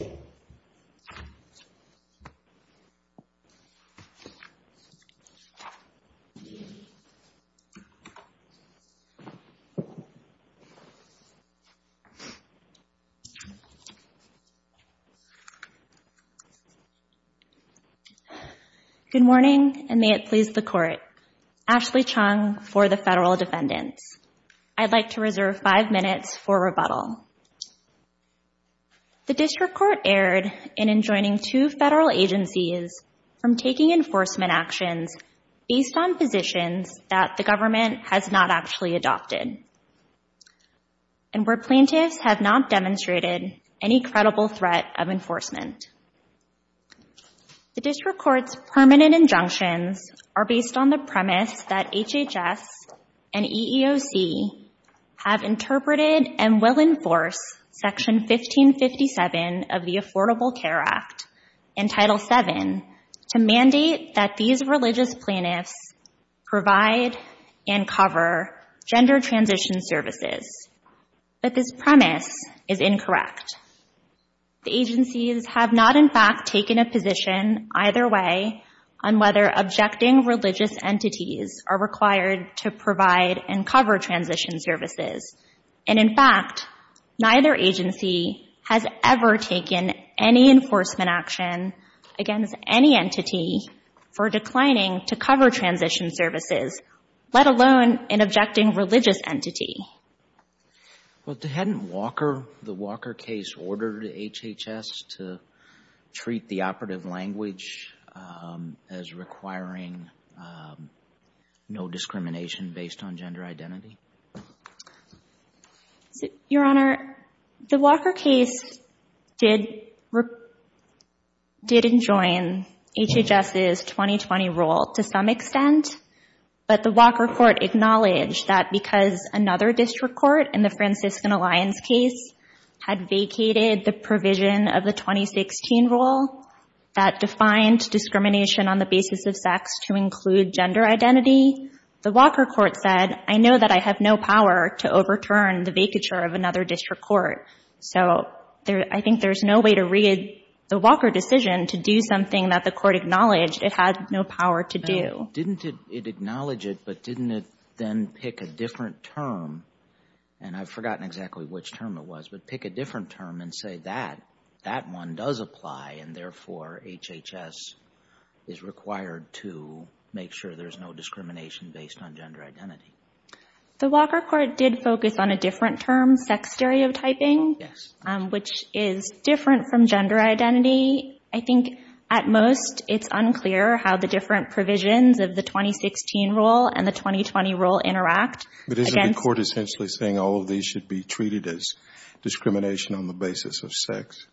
Good morning, and may it please the Court. Ashley Chung for the Federal Defendants. I'd like to reserve five minutes for rebuttal. The District Court erred in enjoining two federal agencies from taking enforcement actions based on positions that the government has not actually adopted, and where plaintiffs have not demonstrated any credible threat of enforcement. The District Court's permanent injunctions are based on the premise that HHS and EEOC have interpreted and will enforce Section 1557 of the Affordable Care Act and Title VII to mandate that these religious plaintiffs provide and cover gender transition services. But this premise is incorrect. The agencies have not, in fact, taken a position either way on whether objecting religious entities are required to provide and cover transition services. And in fact, neither agency has ever taken any enforcement action against any entity for declining to cover transition services, let alone in objecting religious entity. Well, hadn't Walker, the Walker case, ordered HHS to treat the operative language as requiring no discrimination based on gender identity? Your Honor, the Walker case did enjoin HHS's 2020 rule to some extent, but the Walker court acknowledged that because another district court in the Franciscan Alliance case had vacated the provision of the 2016 rule that defined discrimination on the basis of sex to include gender identity, the Walker court said, I know that I have no power to overturn the vacature of another district court. So I think there's no way to read the Walker decision to do something that the court acknowledged it had no power to do. Well, didn't it acknowledge it, but didn't it then pick a different term? And I've forgotten exactly which term it was, but pick a different term and say that that one does apply and therefore HHS is required to make sure there's no discrimination based on gender identity. The Walker court did focus on a different term, sex stereotyping, which is different from gender identity. I think at most it's unclear how the different provisions of the 2016 rule and the 2020 rule interact. But isn't the court essentially saying all of these should be treated as discrimination on the basis of sex?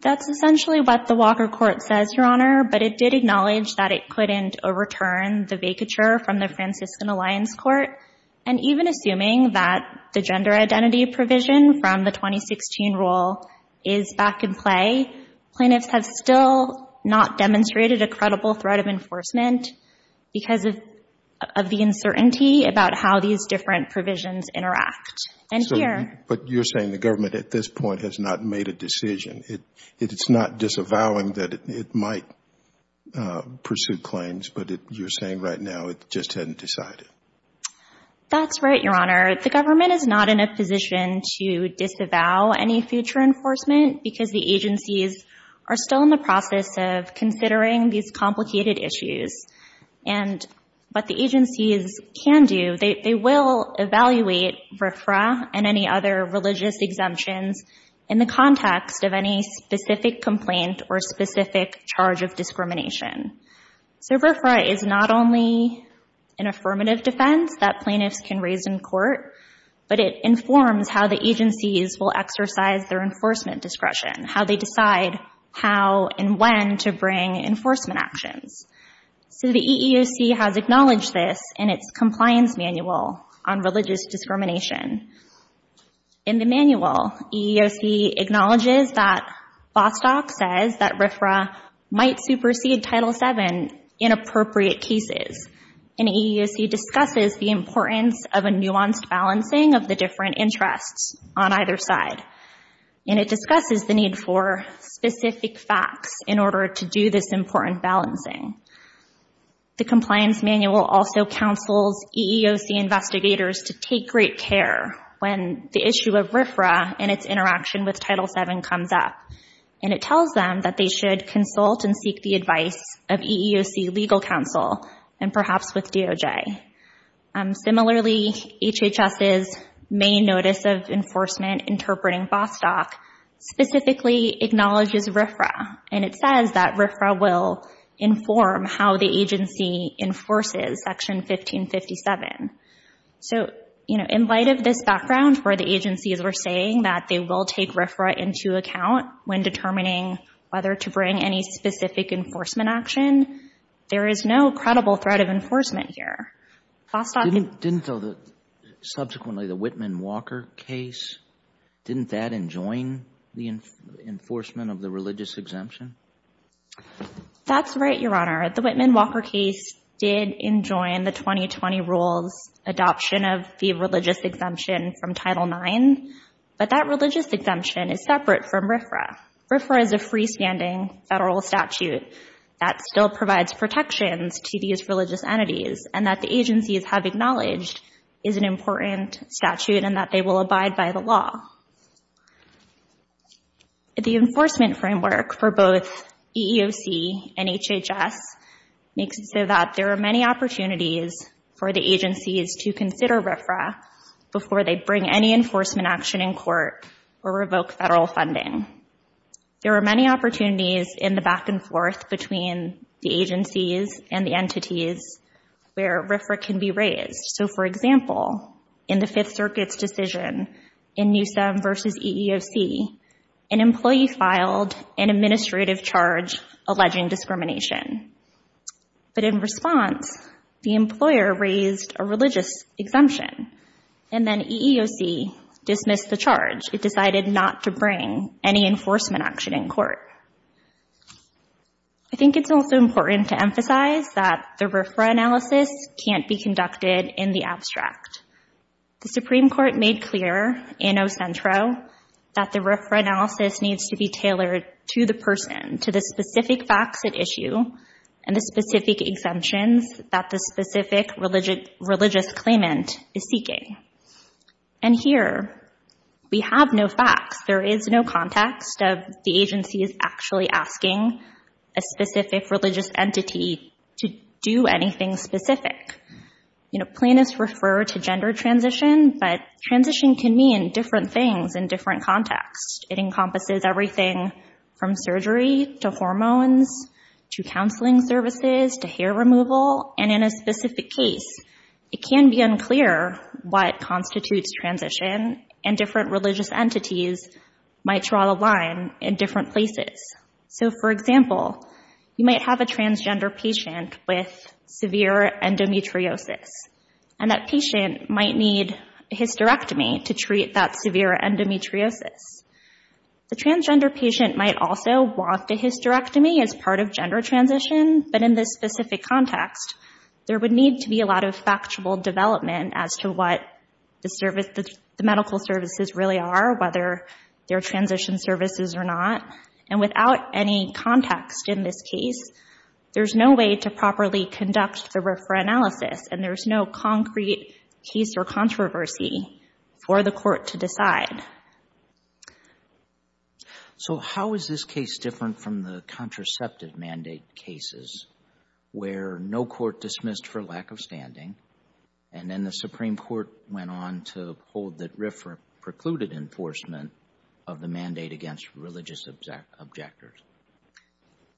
That's essentially what the Walker court says, Your Honor, but it did acknowledge that it couldn't overturn the vacature from the Franciscan Alliance court. And even assuming that the gender identity provision from the 2016 rule is back in play, plaintiffs have still not demonstrated a credible threat of enforcement because of the uncertainty about how these different provisions interact. And here- But you're saying the government at this point has not made a decision. It's not disavowing that it might pursue claims, but you're saying right now it just hasn't decided. That's right, Your Honor. The government is not in a position to disavow any future enforcement because the agencies are still in the process of considering these complicated issues. And what the agencies can do, they will evaluate RFRA and any other religious exemptions in the context of any specific complaint or specific charge of discrimination. So RFRA is not only an affirmative defense that plaintiffs can raise in court, but it informs how the agencies will exercise their enforcement discretion, how they decide how and when to bring enforcement actions. So the EEOC has acknowledged this in its compliance manual on religious discrimination. In the manual, EEOC acknowledges that Bostock says that RFRA might supersede Title VII in appropriate cases, and EEOC discusses the importance of a nuanced balancing of the different interests on either side. And it discusses the need for specific facts in order to do this important balancing. The compliance manual also counsels EEOC investigators to take great care when the issue of RFRA and its interaction with Title VII comes up. And it tells them that they should consult and seek the advice of EEOC legal counsel and perhaps with DOJ. Similarly, HHS's main notice of enforcement interpreting Bostock specifically acknowledges RFRA, and it says that RFRA will inform how the agency enforces Section 1557. So in light of this background where the agencies were saying that they will take RFRA into account when determining whether to bring any specific enforcement action, there is no credible threat of enforcement here. Bostock— Didn't, though, subsequently the Whitman-Walker case, didn't that enjoin the enforcement of the religious exemption? That's right, Your Honor. The Whitman-Walker case did enjoin the 2020 rules adoption of the religious exemption from Title IX, but that religious exemption is separate from RFRA. RFRA is a freestanding federal statute that still provides protections to these religious entities and that the agencies have acknowledged is an important statute and that they will abide by the law. The enforcement framework for both EEOC and HHS makes it so that there are many opportunities for the agencies to consider RFRA before they bring any enforcement action in court or revoke federal funding. There are many opportunities in the back and forth between the agencies and the entities where RFRA can be raised. So, for example, in the Fifth Circuit's decision in Newsom v. EEOC, an employee filed an administrative charge alleging discrimination, but in response, the employer raised a religious exemption and then EEOC dismissed the charge. It decided not to bring any enforcement action in court. I think it's also important to emphasize that the RFRA analysis can't be conducted in the abstract. The Supreme Court made clear in Ocentro that the RFRA analysis needs to be tailored to the person, to the specific facts at issue, and the specific exemptions that the specific religious claimant is seeking. And here, we have no facts. There is no context of the agencies actually asking a specific religious entity to do anything specific. You know, plaintiffs refer to gender transition, but transition can mean different things in different contexts. It encompasses everything from surgery to hormones to counseling services to hair removal. And in a specific case, it can be unclear what constitutes transition and different religious entities might draw the line in different places. So for example, you might have a transgender patient with severe endometriosis, and that patient might need a hysterectomy to treat that severe endometriosis. The transgender patient might also want a hysterectomy as part of gender transition, but in this specific context, there would need to be a lot of factual development as to what the medical services really are, whether they're transition services or not. And without any context in this case, there's no way to properly conduct the RFRA analysis, and there's no concrete case or controversy for the court to decide. So how is this case different from the contraceptive mandate cases, where no court dismissed for lack of standing, and then the Supreme Court went on to hold that RFRA precluded enforcement of the mandate against religious objectors?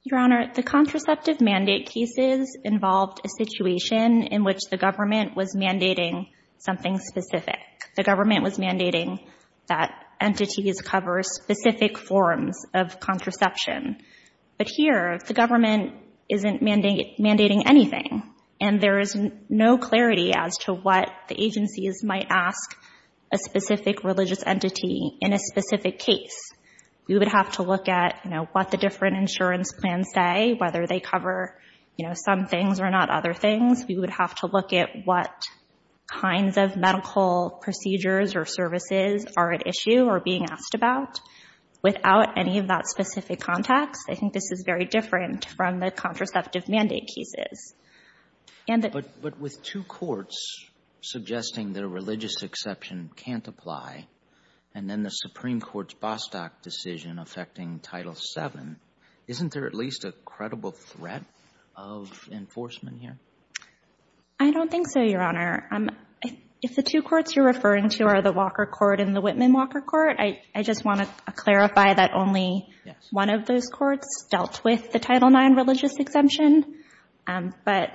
Your Honor, the contraceptive mandate cases involved a situation in which the government was mandating something specific. The government was mandating that entities cover specific forms of contraception. But here, the government isn't mandating anything, and there is no clarity as to what the agencies might ask a specific religious entity in a specific case. We would have to look at, you know, what the different insurance plans say, whether they cover, you know, some things or not other things. We would have to look at what kinds of medical procedures or services are at issue or being asked about. Without any of that specific context, I think this is very different from the contraceptive mandate cases. But with two courts suggesting that a religious exception can't apply, and then the Supreme Court's Bostock decision affecting Title VII, isn't there at least a credible threat of enforcement here? I don't think so, Your Honor. If the two courts you're referring to are the Walker Court and the Whitman-Walker Court, I just want to clarify that only one of those courts dealt with the Title IX religious exemption. But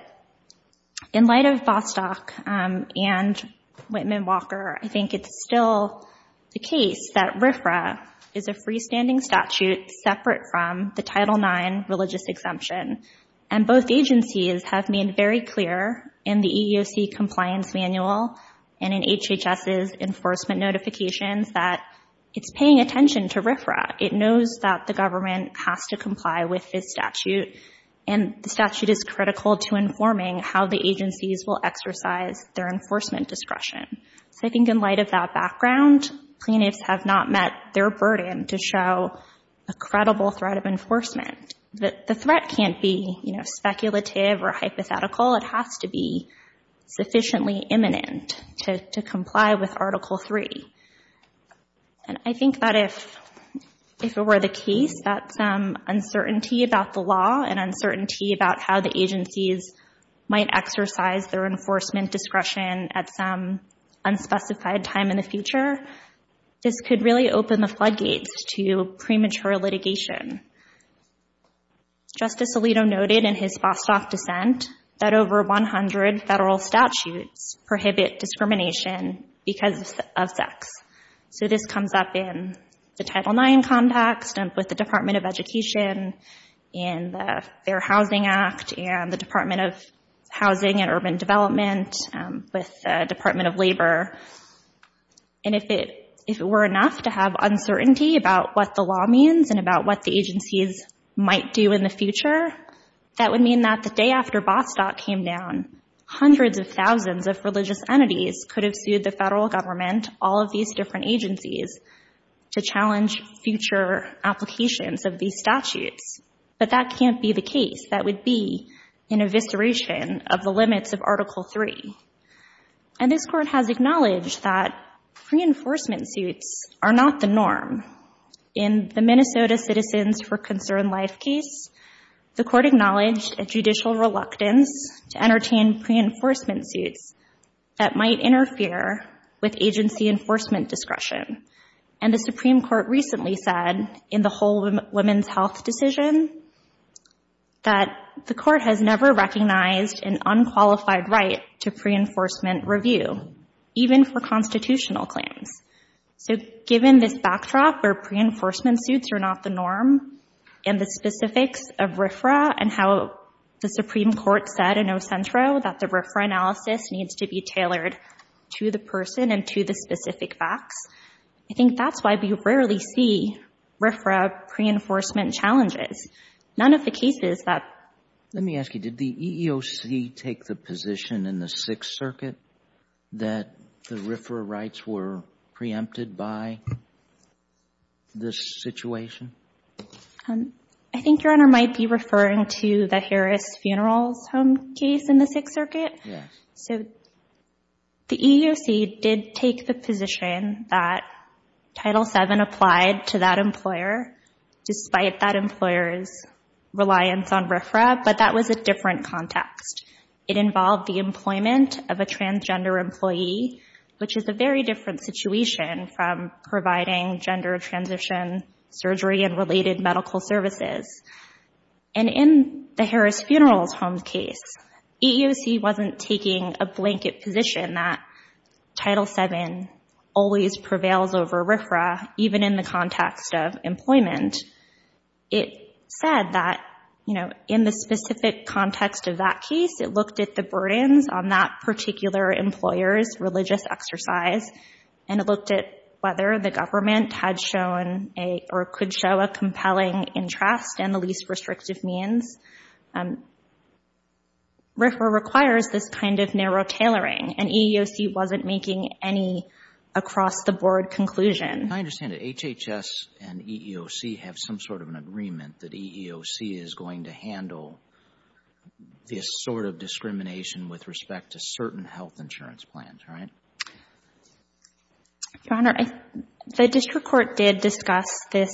in light of Bostock and Whitman-Walker, I think it's still the case that RFRA is a freestanding statute separate from the Title IX religious exemption. And both agencies have made very clear in the EEOC Compliance Manual and in HHS's enforcement notifications that it's paying attention to RFRA. It knows that the government has to comply with this statute, and the statute is critical to informing how the agencies will exercise their enforcement discretion. So I think in light of that background, plaintiffs have not met their burden to show a credible threat of enforcement. The threat can't be speculative or hypothetical. It has to be sufficiently imminent to comply with Article III. And I think that if it were the case that some uncertainty about the law and uncertainty about how the agencies might exercise their enforcement discretion at some unspecified time in the future, this could really open the floodgates to premature litigation. Justice Alito noted in his Bostock dissent that over 100 federal statutes prohibit discrimination because of sex. So this comes up in the Title IX context and with the Department of Education and the Fair And if it were enough to have uncertainty about what the law means and about what the agencies might do in the future, that would mean that the day after Bostock came down, hundreds of thousands of religious entities could have sued the federal government, all of these different agencies, to challenge future applications of these statutes. But that can't be the case. That would be an evisceration of the limits of Article III. And this Court has acknowledged that pre-enforcement suits are not the norm. In the Minnesota Citizens for Concerned Life case, the Court acknowledged a judicial reluctance to entertain pre-enforcement suits that might interfere with agency enforcement discretion. And the Supreme Court recently said in the Whole Women's Health decision that the Court has never recognized an unqualified right to pre-enforcement review, even for constitutional claims. So given this backdrop where pre-enforcement suits are not the norm and the specifics of RFRA and how the Supreme Court said in Ocentro that the RFRA analysis needs to be tailored to the person and to the specific facts, I think that's why we rarely see RFRA pre-enforcement challenges. None of the cases that... Let me ask you, did the EEOC take the position in the Sixth Circuit that the RFRA rights were preempted by this situation? I think Your Honor might be referring to the Harris Funerals Home case in the Sixth Circuit. Yes. So the EEOC did take the position that Title VII applied to that employer despite that employer's reliance on RFRA, but that was a different context. It involved the employment of a transgender employee, which is a very different situation from providing gender transition surgery and related medical services. And in the Harris Funerals Home case, EEOC wasn't taking a blanket position that Title VII always prevails over RFRA, even in the context of employment. It said that, you know, in the specific context of that case, it looked at the burdens on that particular employer's religious exercise, and it looked at whether the government had shown a... or could show a compelling interest in the least restrictive means. RFRA requires this kind of narrow tailoring, and EEOC wasn't making any across-the-board conclusion. I understand that HHS and EEOC have some sort of an agreement that EEOC is going to handle this sort of discrimination with respect to certain health insurance plans, right? Your Honor, the district court did discuss this,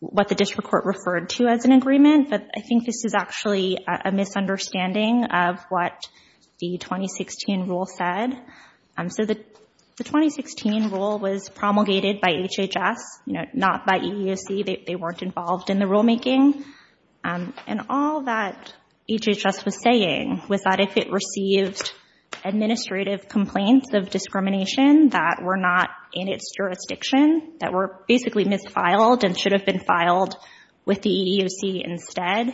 what the district court referred to as an agreement, but I think this is actually a misunderstanding of what the 2016 rule said. So the 2016 rule was promulgated by HHS, you know, not by EEOC. They weren't involved in the rulemaking. And all that HHS was saying was that if it received administrative complaints of discrimination that were not in its jurisdiction, that were basically misfiled and should have been filed with the EEOC instead,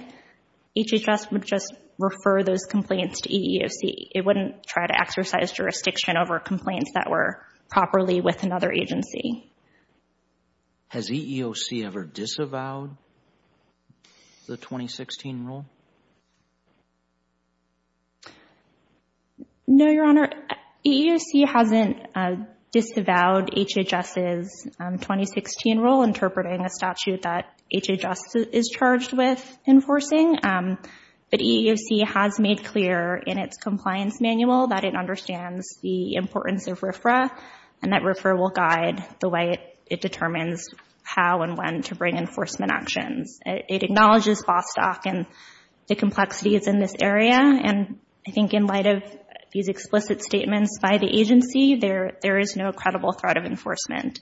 HHS would just refer those complaints to EEOC. It wouldn't try to exercise jurisdiction over complaints that were properly with another agency. Has EEOC ever disavowed the 2016 rule? No, Your Honor, EEOC hasn't disavowed HHS's 2016 rule, interpreting a statute that HHS is charged with enforcing. But EEOC has made clear in its compliance manual that it understands the importance of RFRA and that RFRA will guide the way it determines how and when to bring enforcement actions. It acknowledges Bostock and the complexities in this area, and I think in light of these explicit statements by the agency, there is no credible threat of enforcement.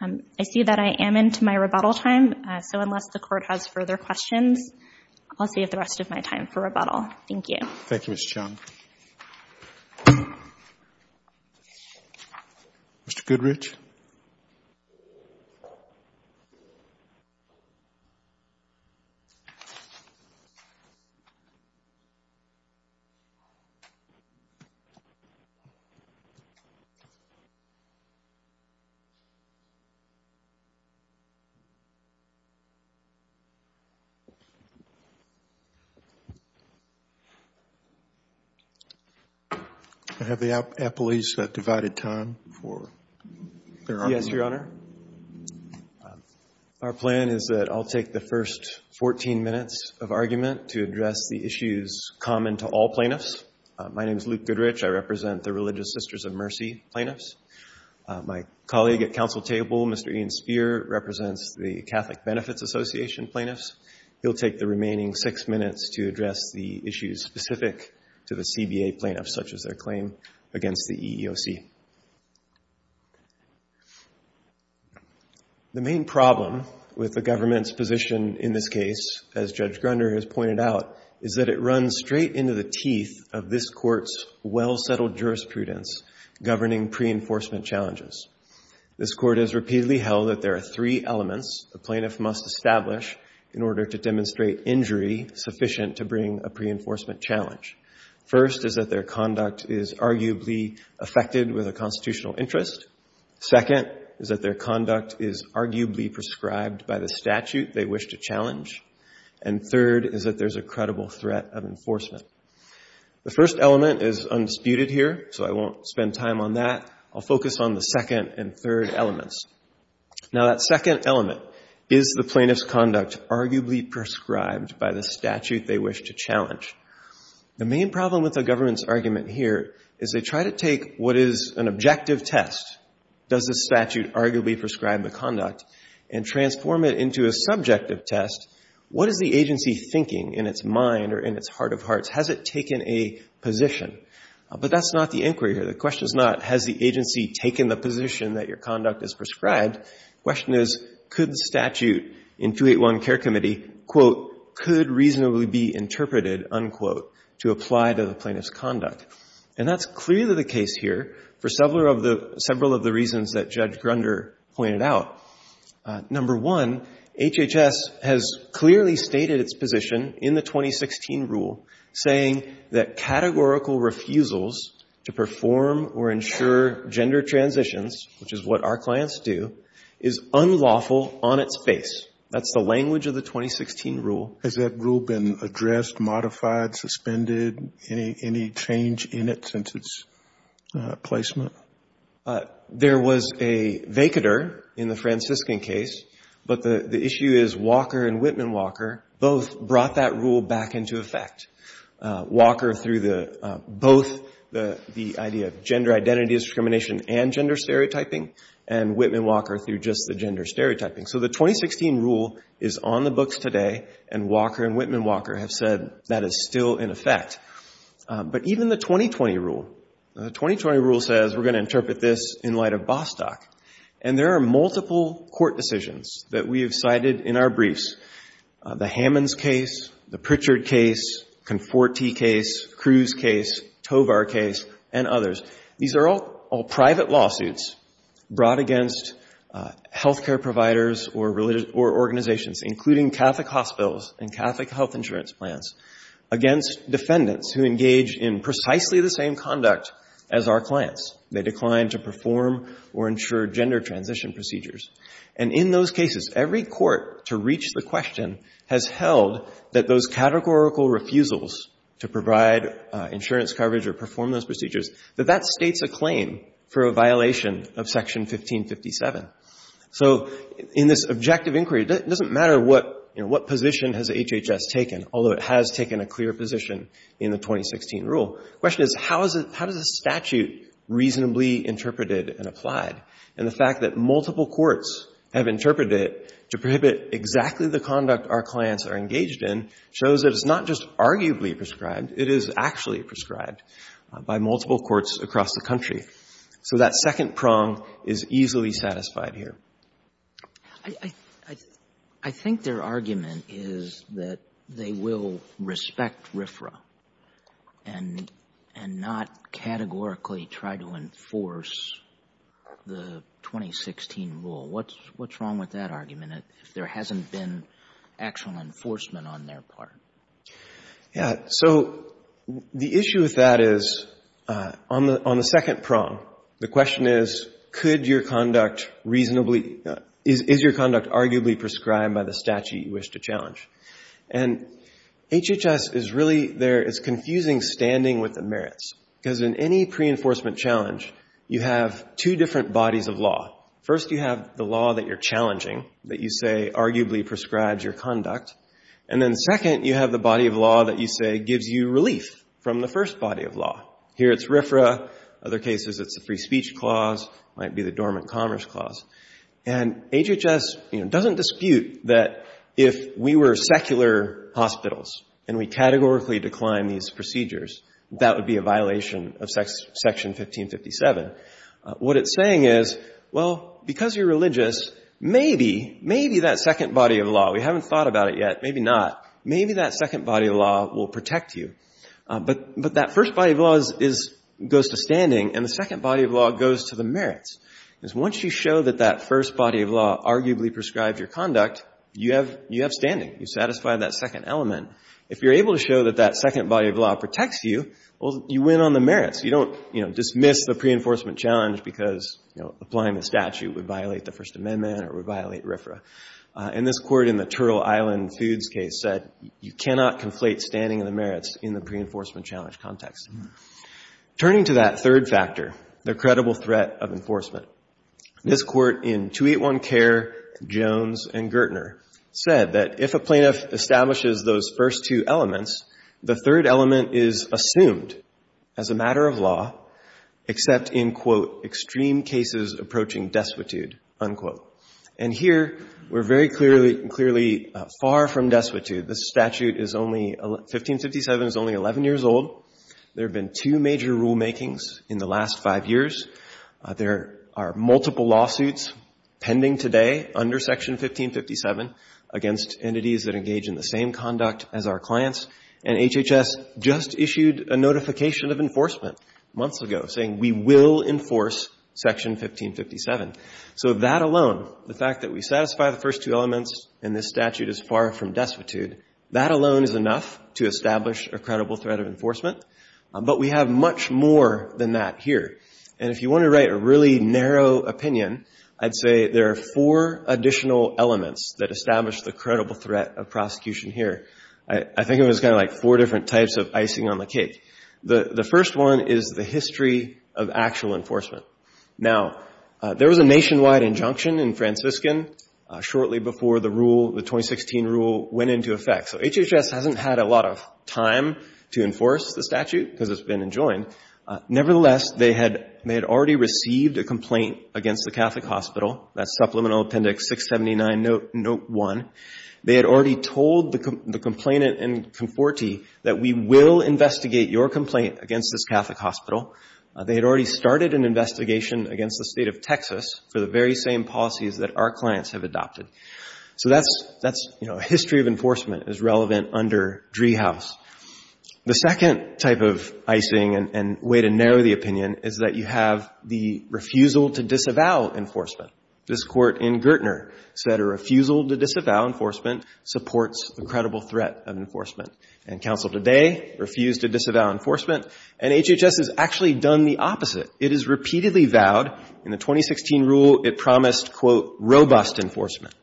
I see that I am into my rebuttal time, so unless the court has further questions, I'll save the rest of my time for rebuttal. Thank you. Thank you, Ms. Cheung. Mr. Goodrich. I have the appellee's divided time for rebuttal. Yes, Your Honor. Our plan is that I'll take the first 14 minutes of argument to address the issues common to all plaintiffs. My name is Luke Goodrich. I represent the Religious Sisters of Mercy plaintiffs. My colleague at counsel table, Mr. Ian Spear, represents the Catholic Benefits Association plaintiffs. He'll take the remaining six minutes to address the issues specific to the CBA plaintiffs, such as their claim against the EEOC. The main problem with the government's position in this case, as Judge Grunder has pointed out, is that it runs straight into the teeth of this Court's well-settled jurisprudence governing pre-enforcement challenges. This Court has repeatedly held that there are three elements the plaintiff must establish in order to demonstrate injury sufficient to bring a pre-enforcement challenge. First is that their conduct is arguably affected with a constitutional interest. Second is that their conduct is arguably prescribed by the statute they wish to challenge. And third is that there's a credible threat of enforcement. The first element is undisputed here, so I won't spend time on that. I'll focus on the second and third elements. Now, that second element, is the plaintiff's conduct arguably prescribed by the statute they wish to challenge? The main problem with the government's argument here is they try to take what is an objective test, does the statute arguably prescribe the conduct, and transform it into a subjective test, what is the agency thinking in its mind or in its heart of hearts? Has it taken a position? But that's not the inquiry here. The question is not, has the agency taken the position that your conduct is prescribed? The question is, could statute in 281 Care Committee, quote, could reasonably be interpreted, unquote, to apply to the plaintiff's conduct? And that's clearly the case here for several of the reasons that Judge Grunder pointed out. Number one, HHS has clearly stated its position in the 2016 rule saying that categorical refusals to perform or ensure gender transitions, which is what our clients do, is unlawful on its face. That's the language of the 2016 rule. Has that rule been addressed, modified, suspended, any change in it since its placement? There was a vacater in the Franciscan case, but the issue is Walker and Whitman-Walker both brought that rule back into effect. Walker through both the idea of gender identity discrimination and gender stereotyping, and Whitman-Walker through just the gender stereotyping. So the 2016 rule is on the books today, and Walker and Whitman-Walker have said that is still in effect. But even the 2020 rule, the 2020 rule says we're going to interpret this in light of Bostock. And there are multiple court decisions that we have cited in our briefs. The Hammons case, the Pritchard case, Conforti case, Cruz case, Tovar case, and others. These are all private lawsuits brought against healthcare providers or organizations, including Catholic hospitals and Catholic health insurance plans, against defendants who engage in precisely the same conduct as our clients. They decline to perform or ensure gender transition procedures. And in those cases, every court to reach the question has held that those categorical refusals to provide insurance coverage or perform those procedures, that that states a claim for a violation of Section 1557. So in this objective inquiry, it doesn't matter what position has HHS taken, although it has taken a clear position in the 2016 rule. The question is, how does the statute reasonably interpret it and apply it? And the fact that multiple courts have interpreted it to prohibit exactly the conduct our clients are engaged in shows that it's not just arguably prescribed, it is actually prescribed by multiple courts across the country. So that second prong is easily satisfied here. I think their argument is that they will respect RFRA and not categorically try to enforce the 2016 rule. What's wrong with that argument if there hasn't been actual enforcement on their part? Yeah. So the issue with that is, on the second prong, the question is, could your conduct reasonably – is your conduct arguably prescribed by the statute you wish to challenge? And HHS is really – there is confusing standing with the merits, because in any pre-enforcement challenge, you have two different bodies of law. First you have the law that you're challenging, that you say arguably prescribes your conduct. And then second, you have the body of law that you say gives you relief from the first body of law. Here it's RFRA. In other cases, it's the Free Speech Clause, might be the Dormant Commerce Clause. And HHS doesn't dispute that if we were secular hospitals and we categorically declined these procedures, that would be a violation of Section 1557. What it's saying is, well, because you're religious, maybe, maybe that second body of law – we haven't thought about it yet, maybe not – maybe that second body of law will protect you. But that first body of law is – goes to standing, and the second body of law goes to the merits. Because once you show that that first body of law arguably prescribes your conduct, you have standing. You satisfy that second element. If you're able to show that that second body of law protects you, well, you win on the merits. You don't, you know, dismiss the pre-enforcement challenge because, you know, applying the statute would violate the First Amendment or would violate RFRA. And this Court in the Turtle Island Foods case said you cannot conflate standing and pre-enforcement challenge context. Turning to that third factor, the credible threat of enforcement, this Court in 281 Kerr, Jones, and Gertner said that if a plaintiff establishes those first two elements, the third element is assumed as a matter of law, except in, quote, extreme cases approaching despotude, unquote. And here, we're very clearly, clearly far from despotude. This statute is only 1557 is only 11 years old. There have been two major rulemakings in the last five years. There are multiple lawsuits pending today under Section 1557 against entities that engage in the same conduct as our clients. And HHS just issued a notification of enforcement months ago saying we will enforce Section 1557. So that alone, the fact that we satisfy the first two elements and this statute is far from despotude, that alone is enough to establish a credible threat of enforcement. But we have much more than that here. And if you want to write a really narrow opinion, I'd say there are four additional elements that establish the credible threat of prosecution here. I think it was kind of like four different types of icing on the cake. The first one is the history of actual enforcement. Now, there was a nationwide injunction in Franciscan shortly before the rule, the 2016 rule went into effect. So HHS hasn't had a lot of time to enforce the statute because it's been enjoined. Nevertheless, they had already received a complaint against the Catholic Hospital. That's Supplemental Appendix 679, Note 1. They had already told the complainant in Conforti that we will investigate your complaint against this Catholic Hospital. They had already started an investigation against the state of Texas for the very same policies that our clients have adopted. So that's, you know, history of enforcement is relevant under Dreehouse. The second type of icing and way to narrow the opinion is that you have the refusal to disavow enforcement. This court in Gertner said a refusal to disavow enforcement supports the credible threat of enforcement. And counsel today refused to disavow enforcement. And HHS has actually done the opposite. It has repeatedly vowed in the 2016 rule it promised, quote, robust enforcement.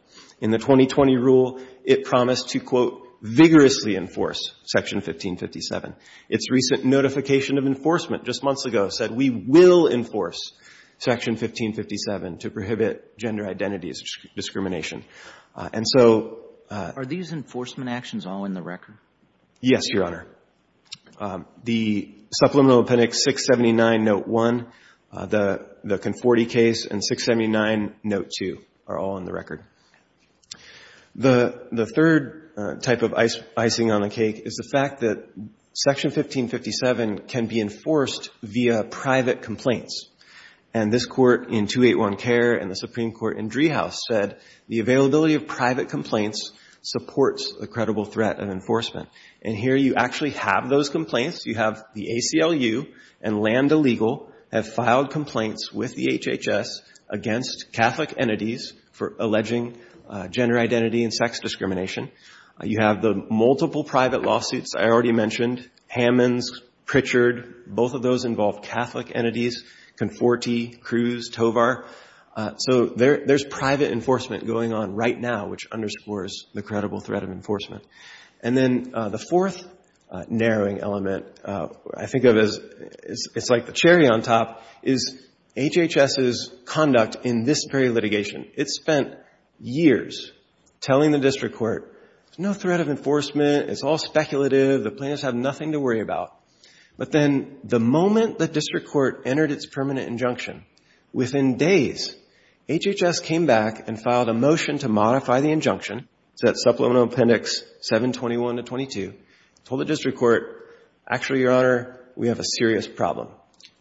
In the 2020 rule, it promised to, quote, vigorously enforce Section 1557. Its recent notification of enforcement just months ago said we will enforce Section 1557 to prohibit gender identity discrimination. And so — Are these enforcement actions all in the record? Yes, Your Honor. The Supplemental Appendix 679, Note 1, the Conforti case, and 679, Note 2, are all in the record. The third type of icing on the cake is the fact that Section 1557 can be enforced via private complaints. And this court in 281 Kerr and the Supreme Court in Dreehouse said the availability of private complaints supports the credible threat of enforcement. And here you actually have those complaints. You have the ACLU and Land Illegal have filed complaints with the HHS against Catholic entities for alleging gender identity and sex discrimination. You have the multiple private lawsuits I already mentioned, Hammonds, Pritchard, both of those involve Catholic entities, Conforti, Cruz, Tovar. So there's private enforcement going on right now which underscores the credible threat of enforcement. And then the fourth narrowing element I think of as — it's like the cherry on top — is HHS's conduct in this very litigation. It spent years telling the district court, there's no threat of enforcement, it's all speculative, the plaintiffs have nothing to worry about. But then the moment the district court entered its permanent injunction, within days, HHS came back and filed a motion to modify the injunction, so that's supplemental appendix 721 to 22, told the district court, actually, Your Honor, we have a serious problem.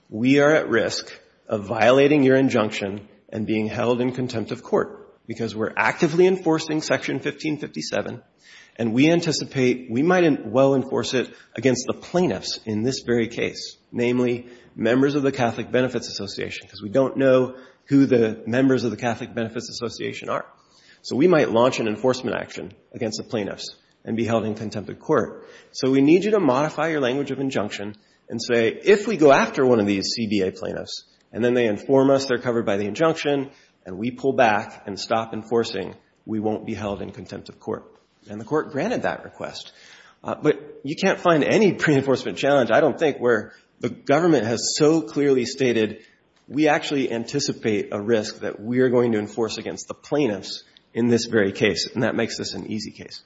We are at risk of violating your injunction and being held in contempt of court because we're actively enforcing section 1557 and we anticipate we might as well enforce it against the plaintiffs in this very case, namely members of the Catholic Benefits Association, because we don't know who the members of the Catholic Benefits Association are. So we might launch an enforcement action against the plaintiffs and be held in contempt of court. So we need you to modify your language of injunction and say, if we go after one of these CBA plaintiffs and then they inform us they're covered by the injunction and we pull back and stop enforcing, we won't be held in contempt of court. And the court granted that request. But you can't find any pre-enforcement challenge, I don't think, where the government has so clearly stated, we actually anticipate a risk that we are going to enforce against the plaintiffs in this very case. And that makes this an easy case.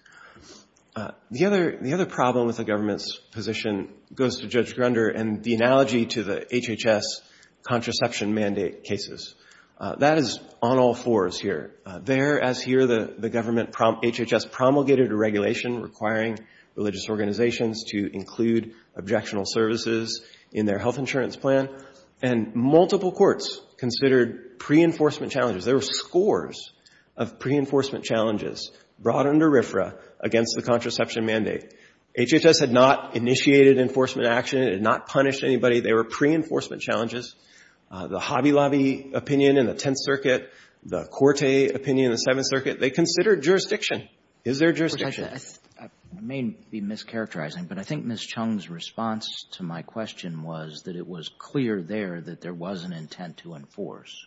The other problem with the government's position goes to Judge Grunder and the analogy to the HHS contraception mandate cases. That is on all fours here. There, as here, the government, HHS, promulgated a regulation requiring religious organizations to include objectionable services in their health insurance plan. And multiple courts considered pre-enforcement challenges. There were scores of pre-enforcement challenges brought under RFRA against the contraception mandate. HHS had not initiated enforcement action. It had not punished anybody. They were pre-enforcement challenges. The Hobby Lobby opinion in the Tenth Circuit, the Corte opinion in the Seventh Circuit, they considered jurisdiction. Is there jurisdiction? I may be mischaracterizing, but I think Ms. Chung's response to my question was that it was clear there that there was an intent to enforce.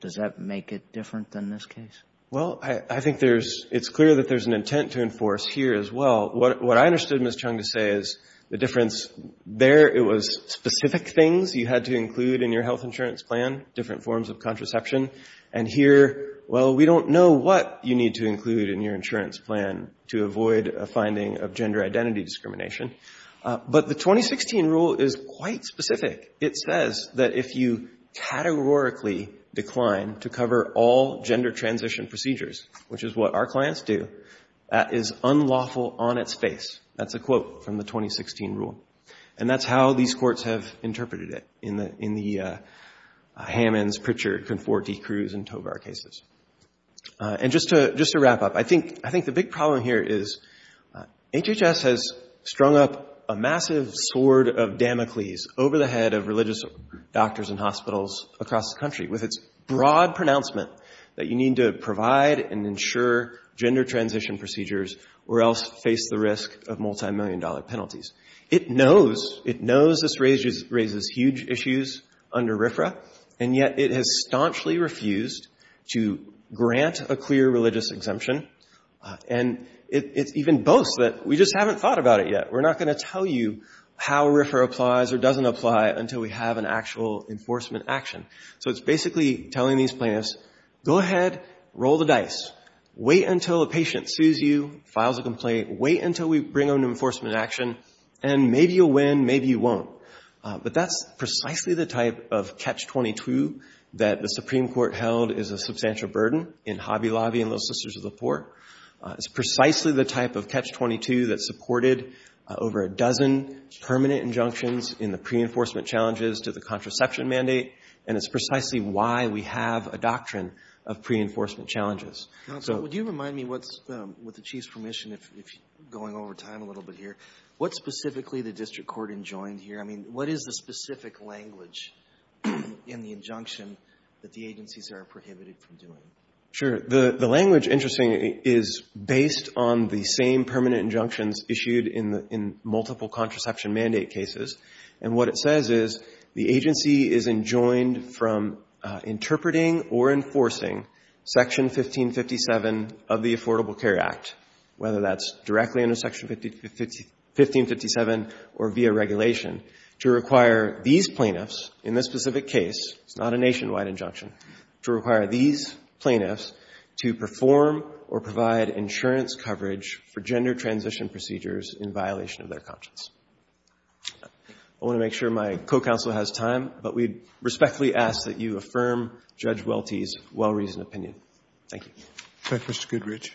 Does that make it different than this case? Well, I think there's — it's clear that there's an intent to enforce here as well. What I understood Ms. Chung to say is the difference there, it was specific things you had to include in your health insurance plan, different forms of contraception. And here, well, we don't know what you need to include in your insurance plan to avoid a finding of gender identity discrimination. But the 2016 rule is quite specific. It says that if you categorically decline to cover all gender transition procedures, which is what our clients do, that is unlawful on its face. That's a quote from the 2016 rule. And that's how these courts have interpreted it in the Hammons, Pritchard, Conforti, Cruz, and Tovar cases. And just to wrap up, I think the big problem here is HHS has strung up a massive sword of Damocles over the head of religious doctors and hospitals across the country with its broad pronouncement that you need to provide and ensure gender transition procedures or else face the risk of multimillion-dollar penalties. It knows, it knows this raises huge issues under RFRA, and yet it has staunchly refused to grant a clear religious exemption, and it even boasts that we just haven't thought about it yet. We're not going to tell you how RFRA applies or doesn't apply until we have an actual enforcement action. So it's basically telling these plaintiffs, go ahead, roll the dice, wait until a patient enforcement action, and maybe you'll win, maybe you won't. But that's precisely the type of Catch-22 that the Supreme Court held is a substantial burden in Hobby Lobby and Little Sisters of the Poor. It's precisely the type of Catch-22 that supported over a dozen permanent injunctions in the pre-enforcement challenges to the contraception mandate, and it's precisely why we have a doctrine of pre-enforcement challenges. Counsel, would you remind me what's, with the Chief's permission, if you're going over time a little bit here, what specifically the district court enjoined here? I mean, what is the specific language in the injunction that the agencies are prohibited from doing? Sure. The language, interestingly, is based on the same permanent injunctions issued in multiple contraception mandate cases, and what it says is the agency is enjoined from interpreting or enforcing section 1557 of the Affordable Care Act, whether that's directly under section 1557 or via regulation, to require these plaintiffs, in this specific case, it's not a nationwide injunction, to require these plaintiffs to perform or provide insurance coverage for gender transition procedures in violation of their conscience. I want to make sure my co-counsel has time, but we respectfully ask that you affirm Judge Welty's well-reasoned opinion. Thank you. Thank you, Mr. Goodrich.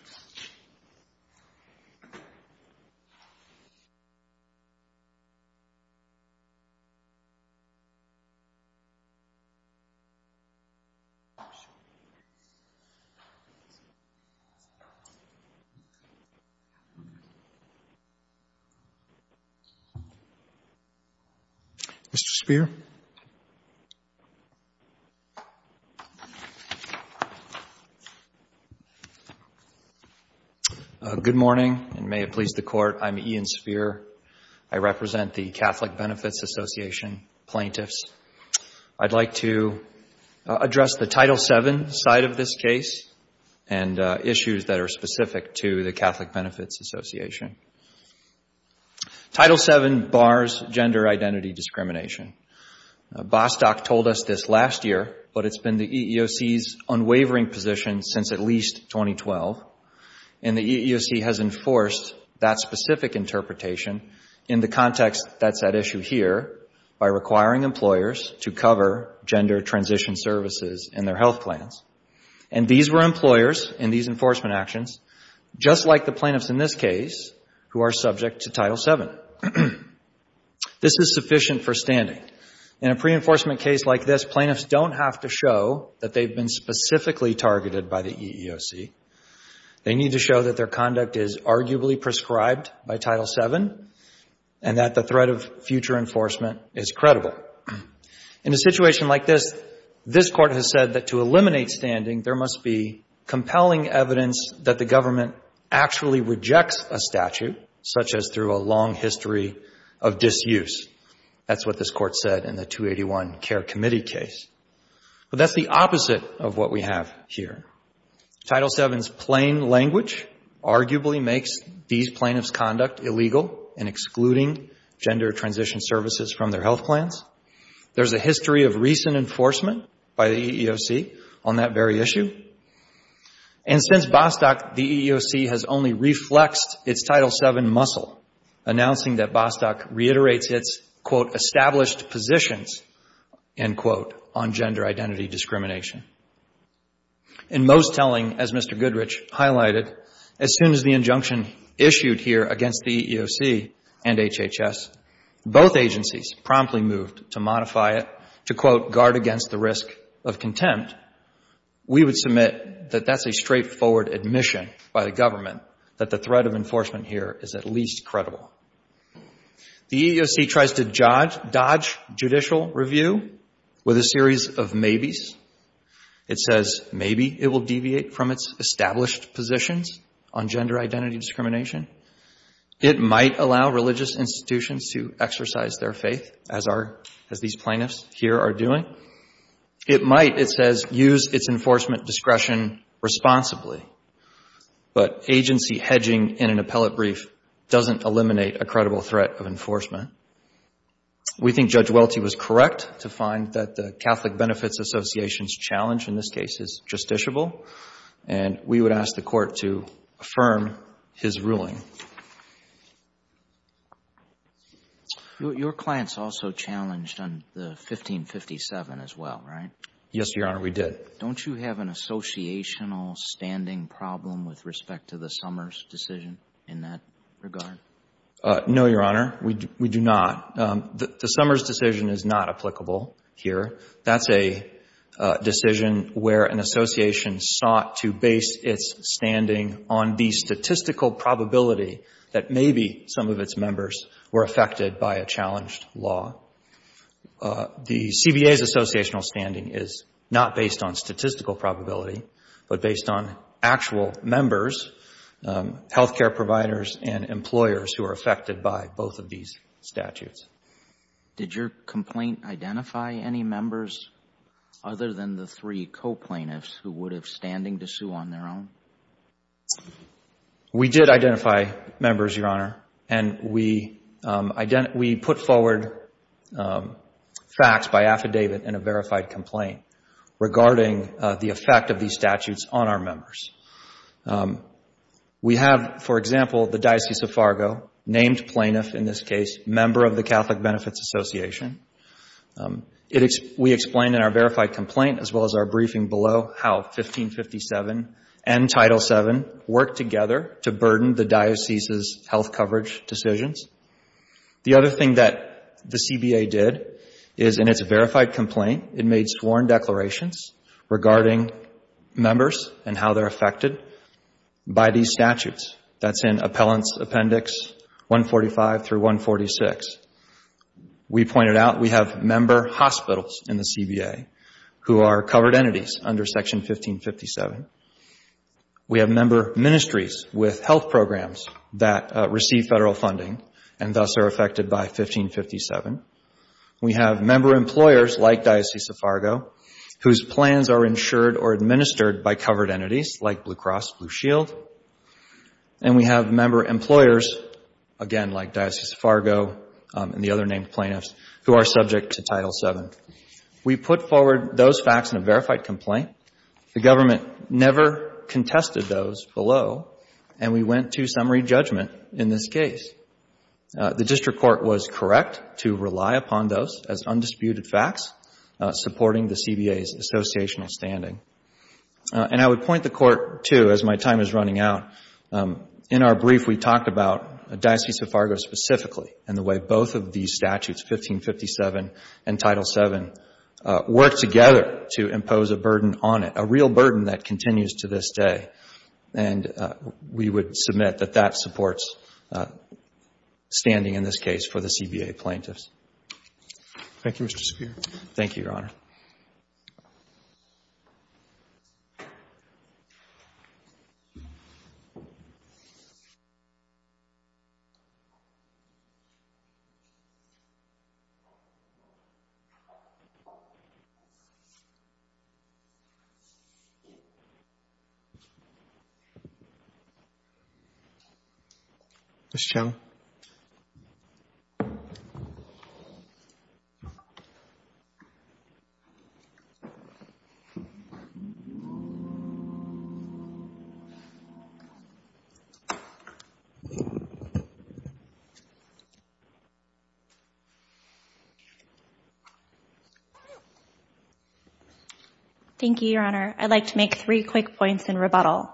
Mr. Speer. Good morning, and may it please the Court, I'm Ian Speer. I represent the Catholic Benefits Association plaintiffs. I'd like to address the Title VII side of this case and issues that are specific to the Catholic Benefits Association. Title VII bars gender identity discrimination. Bostock told us this last year, but it's been the EEOC's unwavering position since at least 2012, and the EEOC has enforced that specific interpretation in the context that's at issue here by requiring employers to cover gender transition services in their health plans. These were employers in these enforcement actions, just like the plaintiffs in this case who are subject to Title VII. But this is sufficient for standing. In a pre-enforcement case like this, plaintiffs don't have to show that they've been specifically targeted by the EEOC. They need to show that their conduct is arguably prescribed by Title VII and that the threat of future enforcement is credible. In a situation like this, this Court has said that to eliminate standing, there must be compelling evidence that the government actually rejects a statute, such as through a long history of disuse. That's what this Court said in the 281 Care Committee case. But that's the opposite of what we have here. Title VII's plain language arguably makes these plaintiffs' conduct illegal in excluding gender transition services from their health plans. There's a history of recent enforcement by the EEOC on that very issue. And since Bostock, the EEOC has only reflexed its Title VII muscle, announcing that Bostock reiterates its, quote, established positions, end quote, on gender identity discrimination. In most telling, as Mr. Goodrich highlighted, as soon as the injunction issued here against the EEOC and HHS, both agencies promptly moved to modify it to, quote, guard against the risk of contempt. We would submit that that's a straightforward admission by the government that the threat of enforcement here is at least credible. The EEOC tries to dodge judicial review with a series of maybes. It says maybe it will deviate from its established positions on gender identity discrimination. It might allow religious institutions to exercise their faith as these plaintiffs here are doing. It might, it says, use its enforcement discretion responsibly. But agency hedging in an appellate brief doesn't eliminate a credible threat of enforcement. We think Judge Welty was correct to find that the Catholic Benefits Association's challenge in this case is justiciable. And we would ask the Court to affirm his ruling. Thank you. Your clients also challenged on the 1557 as well, right? Yes, Your Honor. We did. Don't you have an associational standing problem with respect to the Summers decision in that regard? No, Your Honor. We do not. The Summers decision is not applicable here. That's a decision where an association sought to base its standing on the statistical probability that maybe some of its members were affected by a challenged law. The CBA's associational standing is not based on statistical probability, but based on actual members, health care providers and employers who are affected by both of these statutes. Did your complaint identify any members other than the three co-plaintiffs who would have standing to sue on their own? We did identify members, Your Honor, and we put forward facts by affidavit in a verified complaint regarding the effect of these statutes on our members. We have, for example, the Diocese of Fargo named plaintiff in this case, member of the Catholic Benefits Association. We explain in our verified complaint as well as our briefing below how 1557 and Title VII worked together to burden the diocese's health coverage decisions. The other thing that the CBA did is in its verified complaint, it made sworn declarations regarding members and how they're affected by these statutes. That's in Appellant's Appendix 145 through 146. We pointed out we have member hospitals in the CBA who are covered entities under Section 1557. We have member ministries with health programs that receive federal funding and thus are affected by 1557. We have member employers like Diocese of Fargo whose plans are insured or administered by covered entities like Blue Cross Blue Shield. And we have member employers, again, like Diocese of Fargo and the other named plaintiffs who are subject to Title VII. We put forward those facts in a verified complaint. The government never contested those below and we went to summary judgment in this case. The district court was correct to rely upon those as undisputed facts supporting the CBA's associational standing. And I would point the court to, as my time is running out, in our brief we talked about Diocese of Fargo specifically and the way both of these statutes, 1557 and Title VII, worked together to impose a burden on it, a real burden that continues to this day. And we would submit that that supports standing in this case for the CBA plaintiffs. Thank you, Mr. Saphir. Thank you, Your Honor. Ms. Cheung. Thank you, Your Honor. I'd like to make three quick points in rebuttal.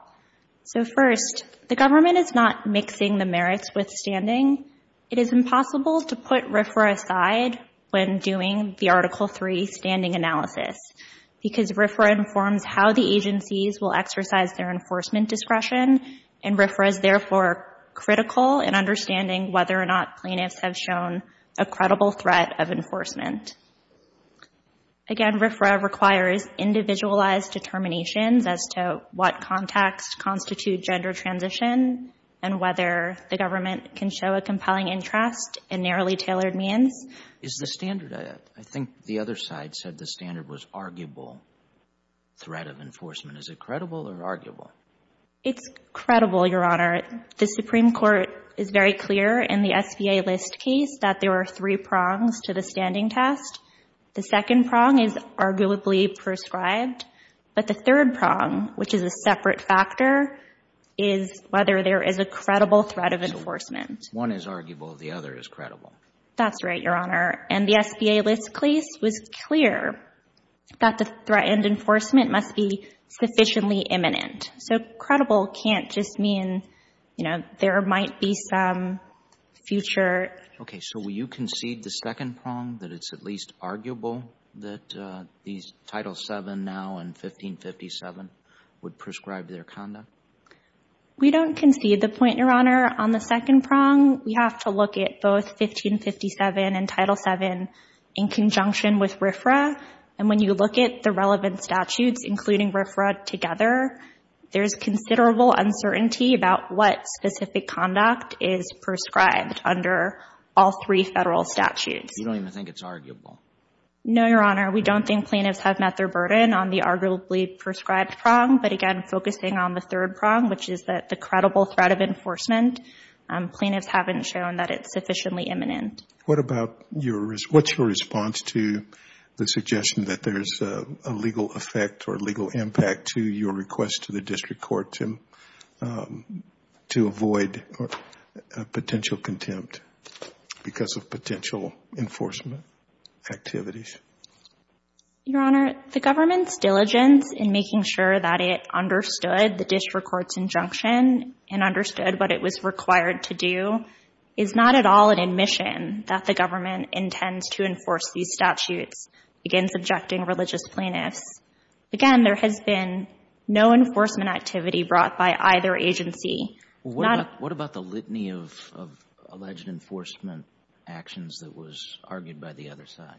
So first, the government is not mixing the merits with standing. It is impossible to put RFRA aside when doing the Article III standing analysis because RFRA informs how the agencies will exercise their enforcement discretion and RFRA is therefore critical in understanding whether or not plaintiffs have shown a credible threat of enforcement. Again, RFRA requires individualized determinations as to what context constitute gender transition and whether the government can show a compelling interest in narrowly tailored means. Is the standard, I think the other side said the standard was arguable. Threat of enforcement, is it credible or arguable? It's credible, Your Honor. The Supreme Court is very clear in the SBA List case that there are three prongs to the test. The second prong is arguably prescribed, but the third prong, which is a separate factor, is whether there is a credible threat of enforcement. One is arguable. The other is credible. That's right, Your Honor. And the SBA List case was clear that the threat and enforcement must be sufficiently imminent. So credible can't just mean, you know, there might be some future – Okay. So will you concede the second prong, that it's at least arguable that Title VII now and 1557 would prescribe their conduct? We don't concede the point, Your Honor. On the second prong, we have to look at both 1557 and Title VII in conjunction with RFRA. And when you look at the relevant statutes, including RFRA together, there is considerable uncertainty about what specific conduct is prescribed under all three federal statutes. You don't even think it's arguable? No, Your Honor. We don't think plaintiffs have met their burden on the arguably prescribed prong. But again, focusing on the third prong, which is that the credible threat of enforcement, plaintiffs haven't shown that it's sufficiently imminent. What about your – what's your response to the suggestion that there's a legal effect or legal impact to your request to the district court to avoid potential contempt because of potential enforcement activities? Your Honor, the government's diligence in making sure that it understood the district court's injunction and understood what it was required to do is not at all an admission that the government intends to enforce these statutes against objecting religious plaintiffs. Again, there has been no enforcement activity brought by either agency. What about the litany of alleged enforcement actions that was argued by the other side?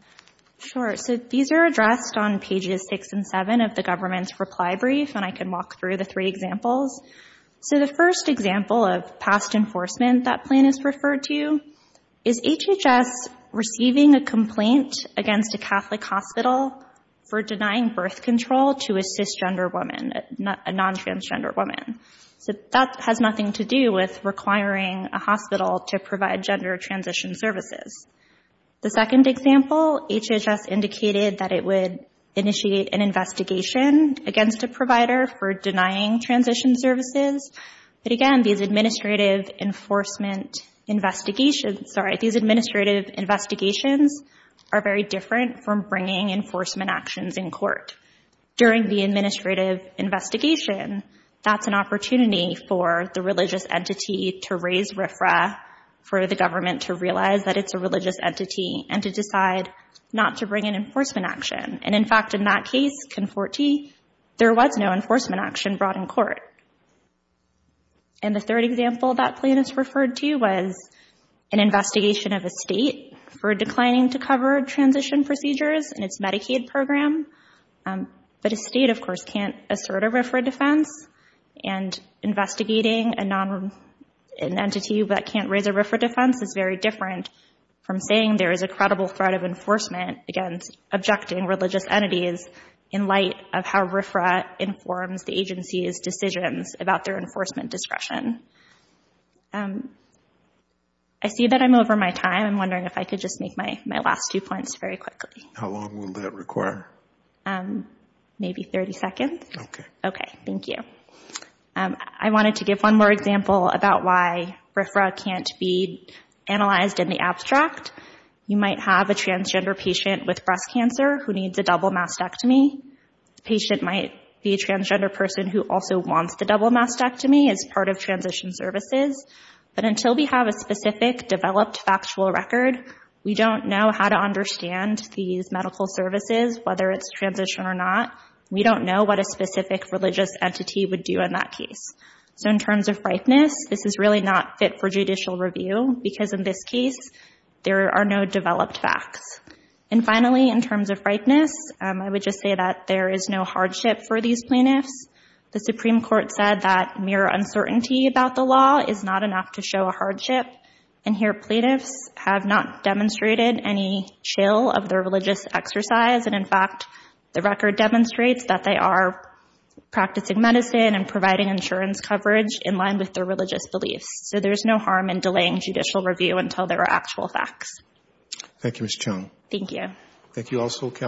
Sure. So these are addressed on pages 6 and 7 of the government's reply brief, and I can walk through the three examples. So the first example of past enforcement that plaintiff referred to is HHS receiving a complaint against a Catholic hospital for denying birth control to a cisgender woman, a non-transgender woman. So that has nothing to do with requiring a hospital to provide gender transition services. The second example, HHS indicated that it would initiate an investigation against a Catholic hospital for denying birth control to a non-transgender woman, a non-transgender So that has nothing to do with requiring a hospital to provide gender transition services. But again, these administrative investigation, sorry, these administrative investigations are very different from bringing enforcement actions in court. During the administrative investigation, that's an opportunity for the religious entity to raise RFRA for the government to realize that it's a religious entity and to decide not to bring an enforcement action. And in fact, in that case, Confortee, there was no enforcement action brought in court. And the third example that plaintiff referred to was an investigation of a state for declining to cover transition procedures in its Medicaid program. But a state, of course, can't assert a RFRA defense, and investigating an entity that can't raise a RFRA defense is very different from saying there is a credible threat of religious entities in light of how RFRA informs the agency's decisions about their enforcement discretion. I see that I'm over my time. I'm wondering if I could just make my last two points very quickly. How long will that require? Maybe 30 seconds. Okay. Okay. Thank you. I wanted to give one more example about why RFRA can't be analyzed in the abstract. You might have a transgender patient with breast cancer who needs a double mastectomy. The patient might be a transgender person who also wants the double mastectomy as part of transition services. But until we have a specific developed factual record, we don't know how to understand these medical services, whether it's transition or not. We don't know what a specific religious entity would do in that case. So in terms of ripeness, this is really not fit for judicial review, because in this case, there are no developed facts. And finally, in terms of ripeness, I would just say that there is no hardship for these plaintiffs. The Supreme Court said that mere uncertainty about the law is not enough to show a hardship. And here, plaintiffs have not demonstrated any chill of their religious exercise. And in fact, the record demonstrates that they are practicing medicine and providing insurance coverage in line with their religious beliefs. So there's no harm in delaying judicial review until there are actual facts. Thank you, Ms. Chung. Thank you. Thank you also, Kelly.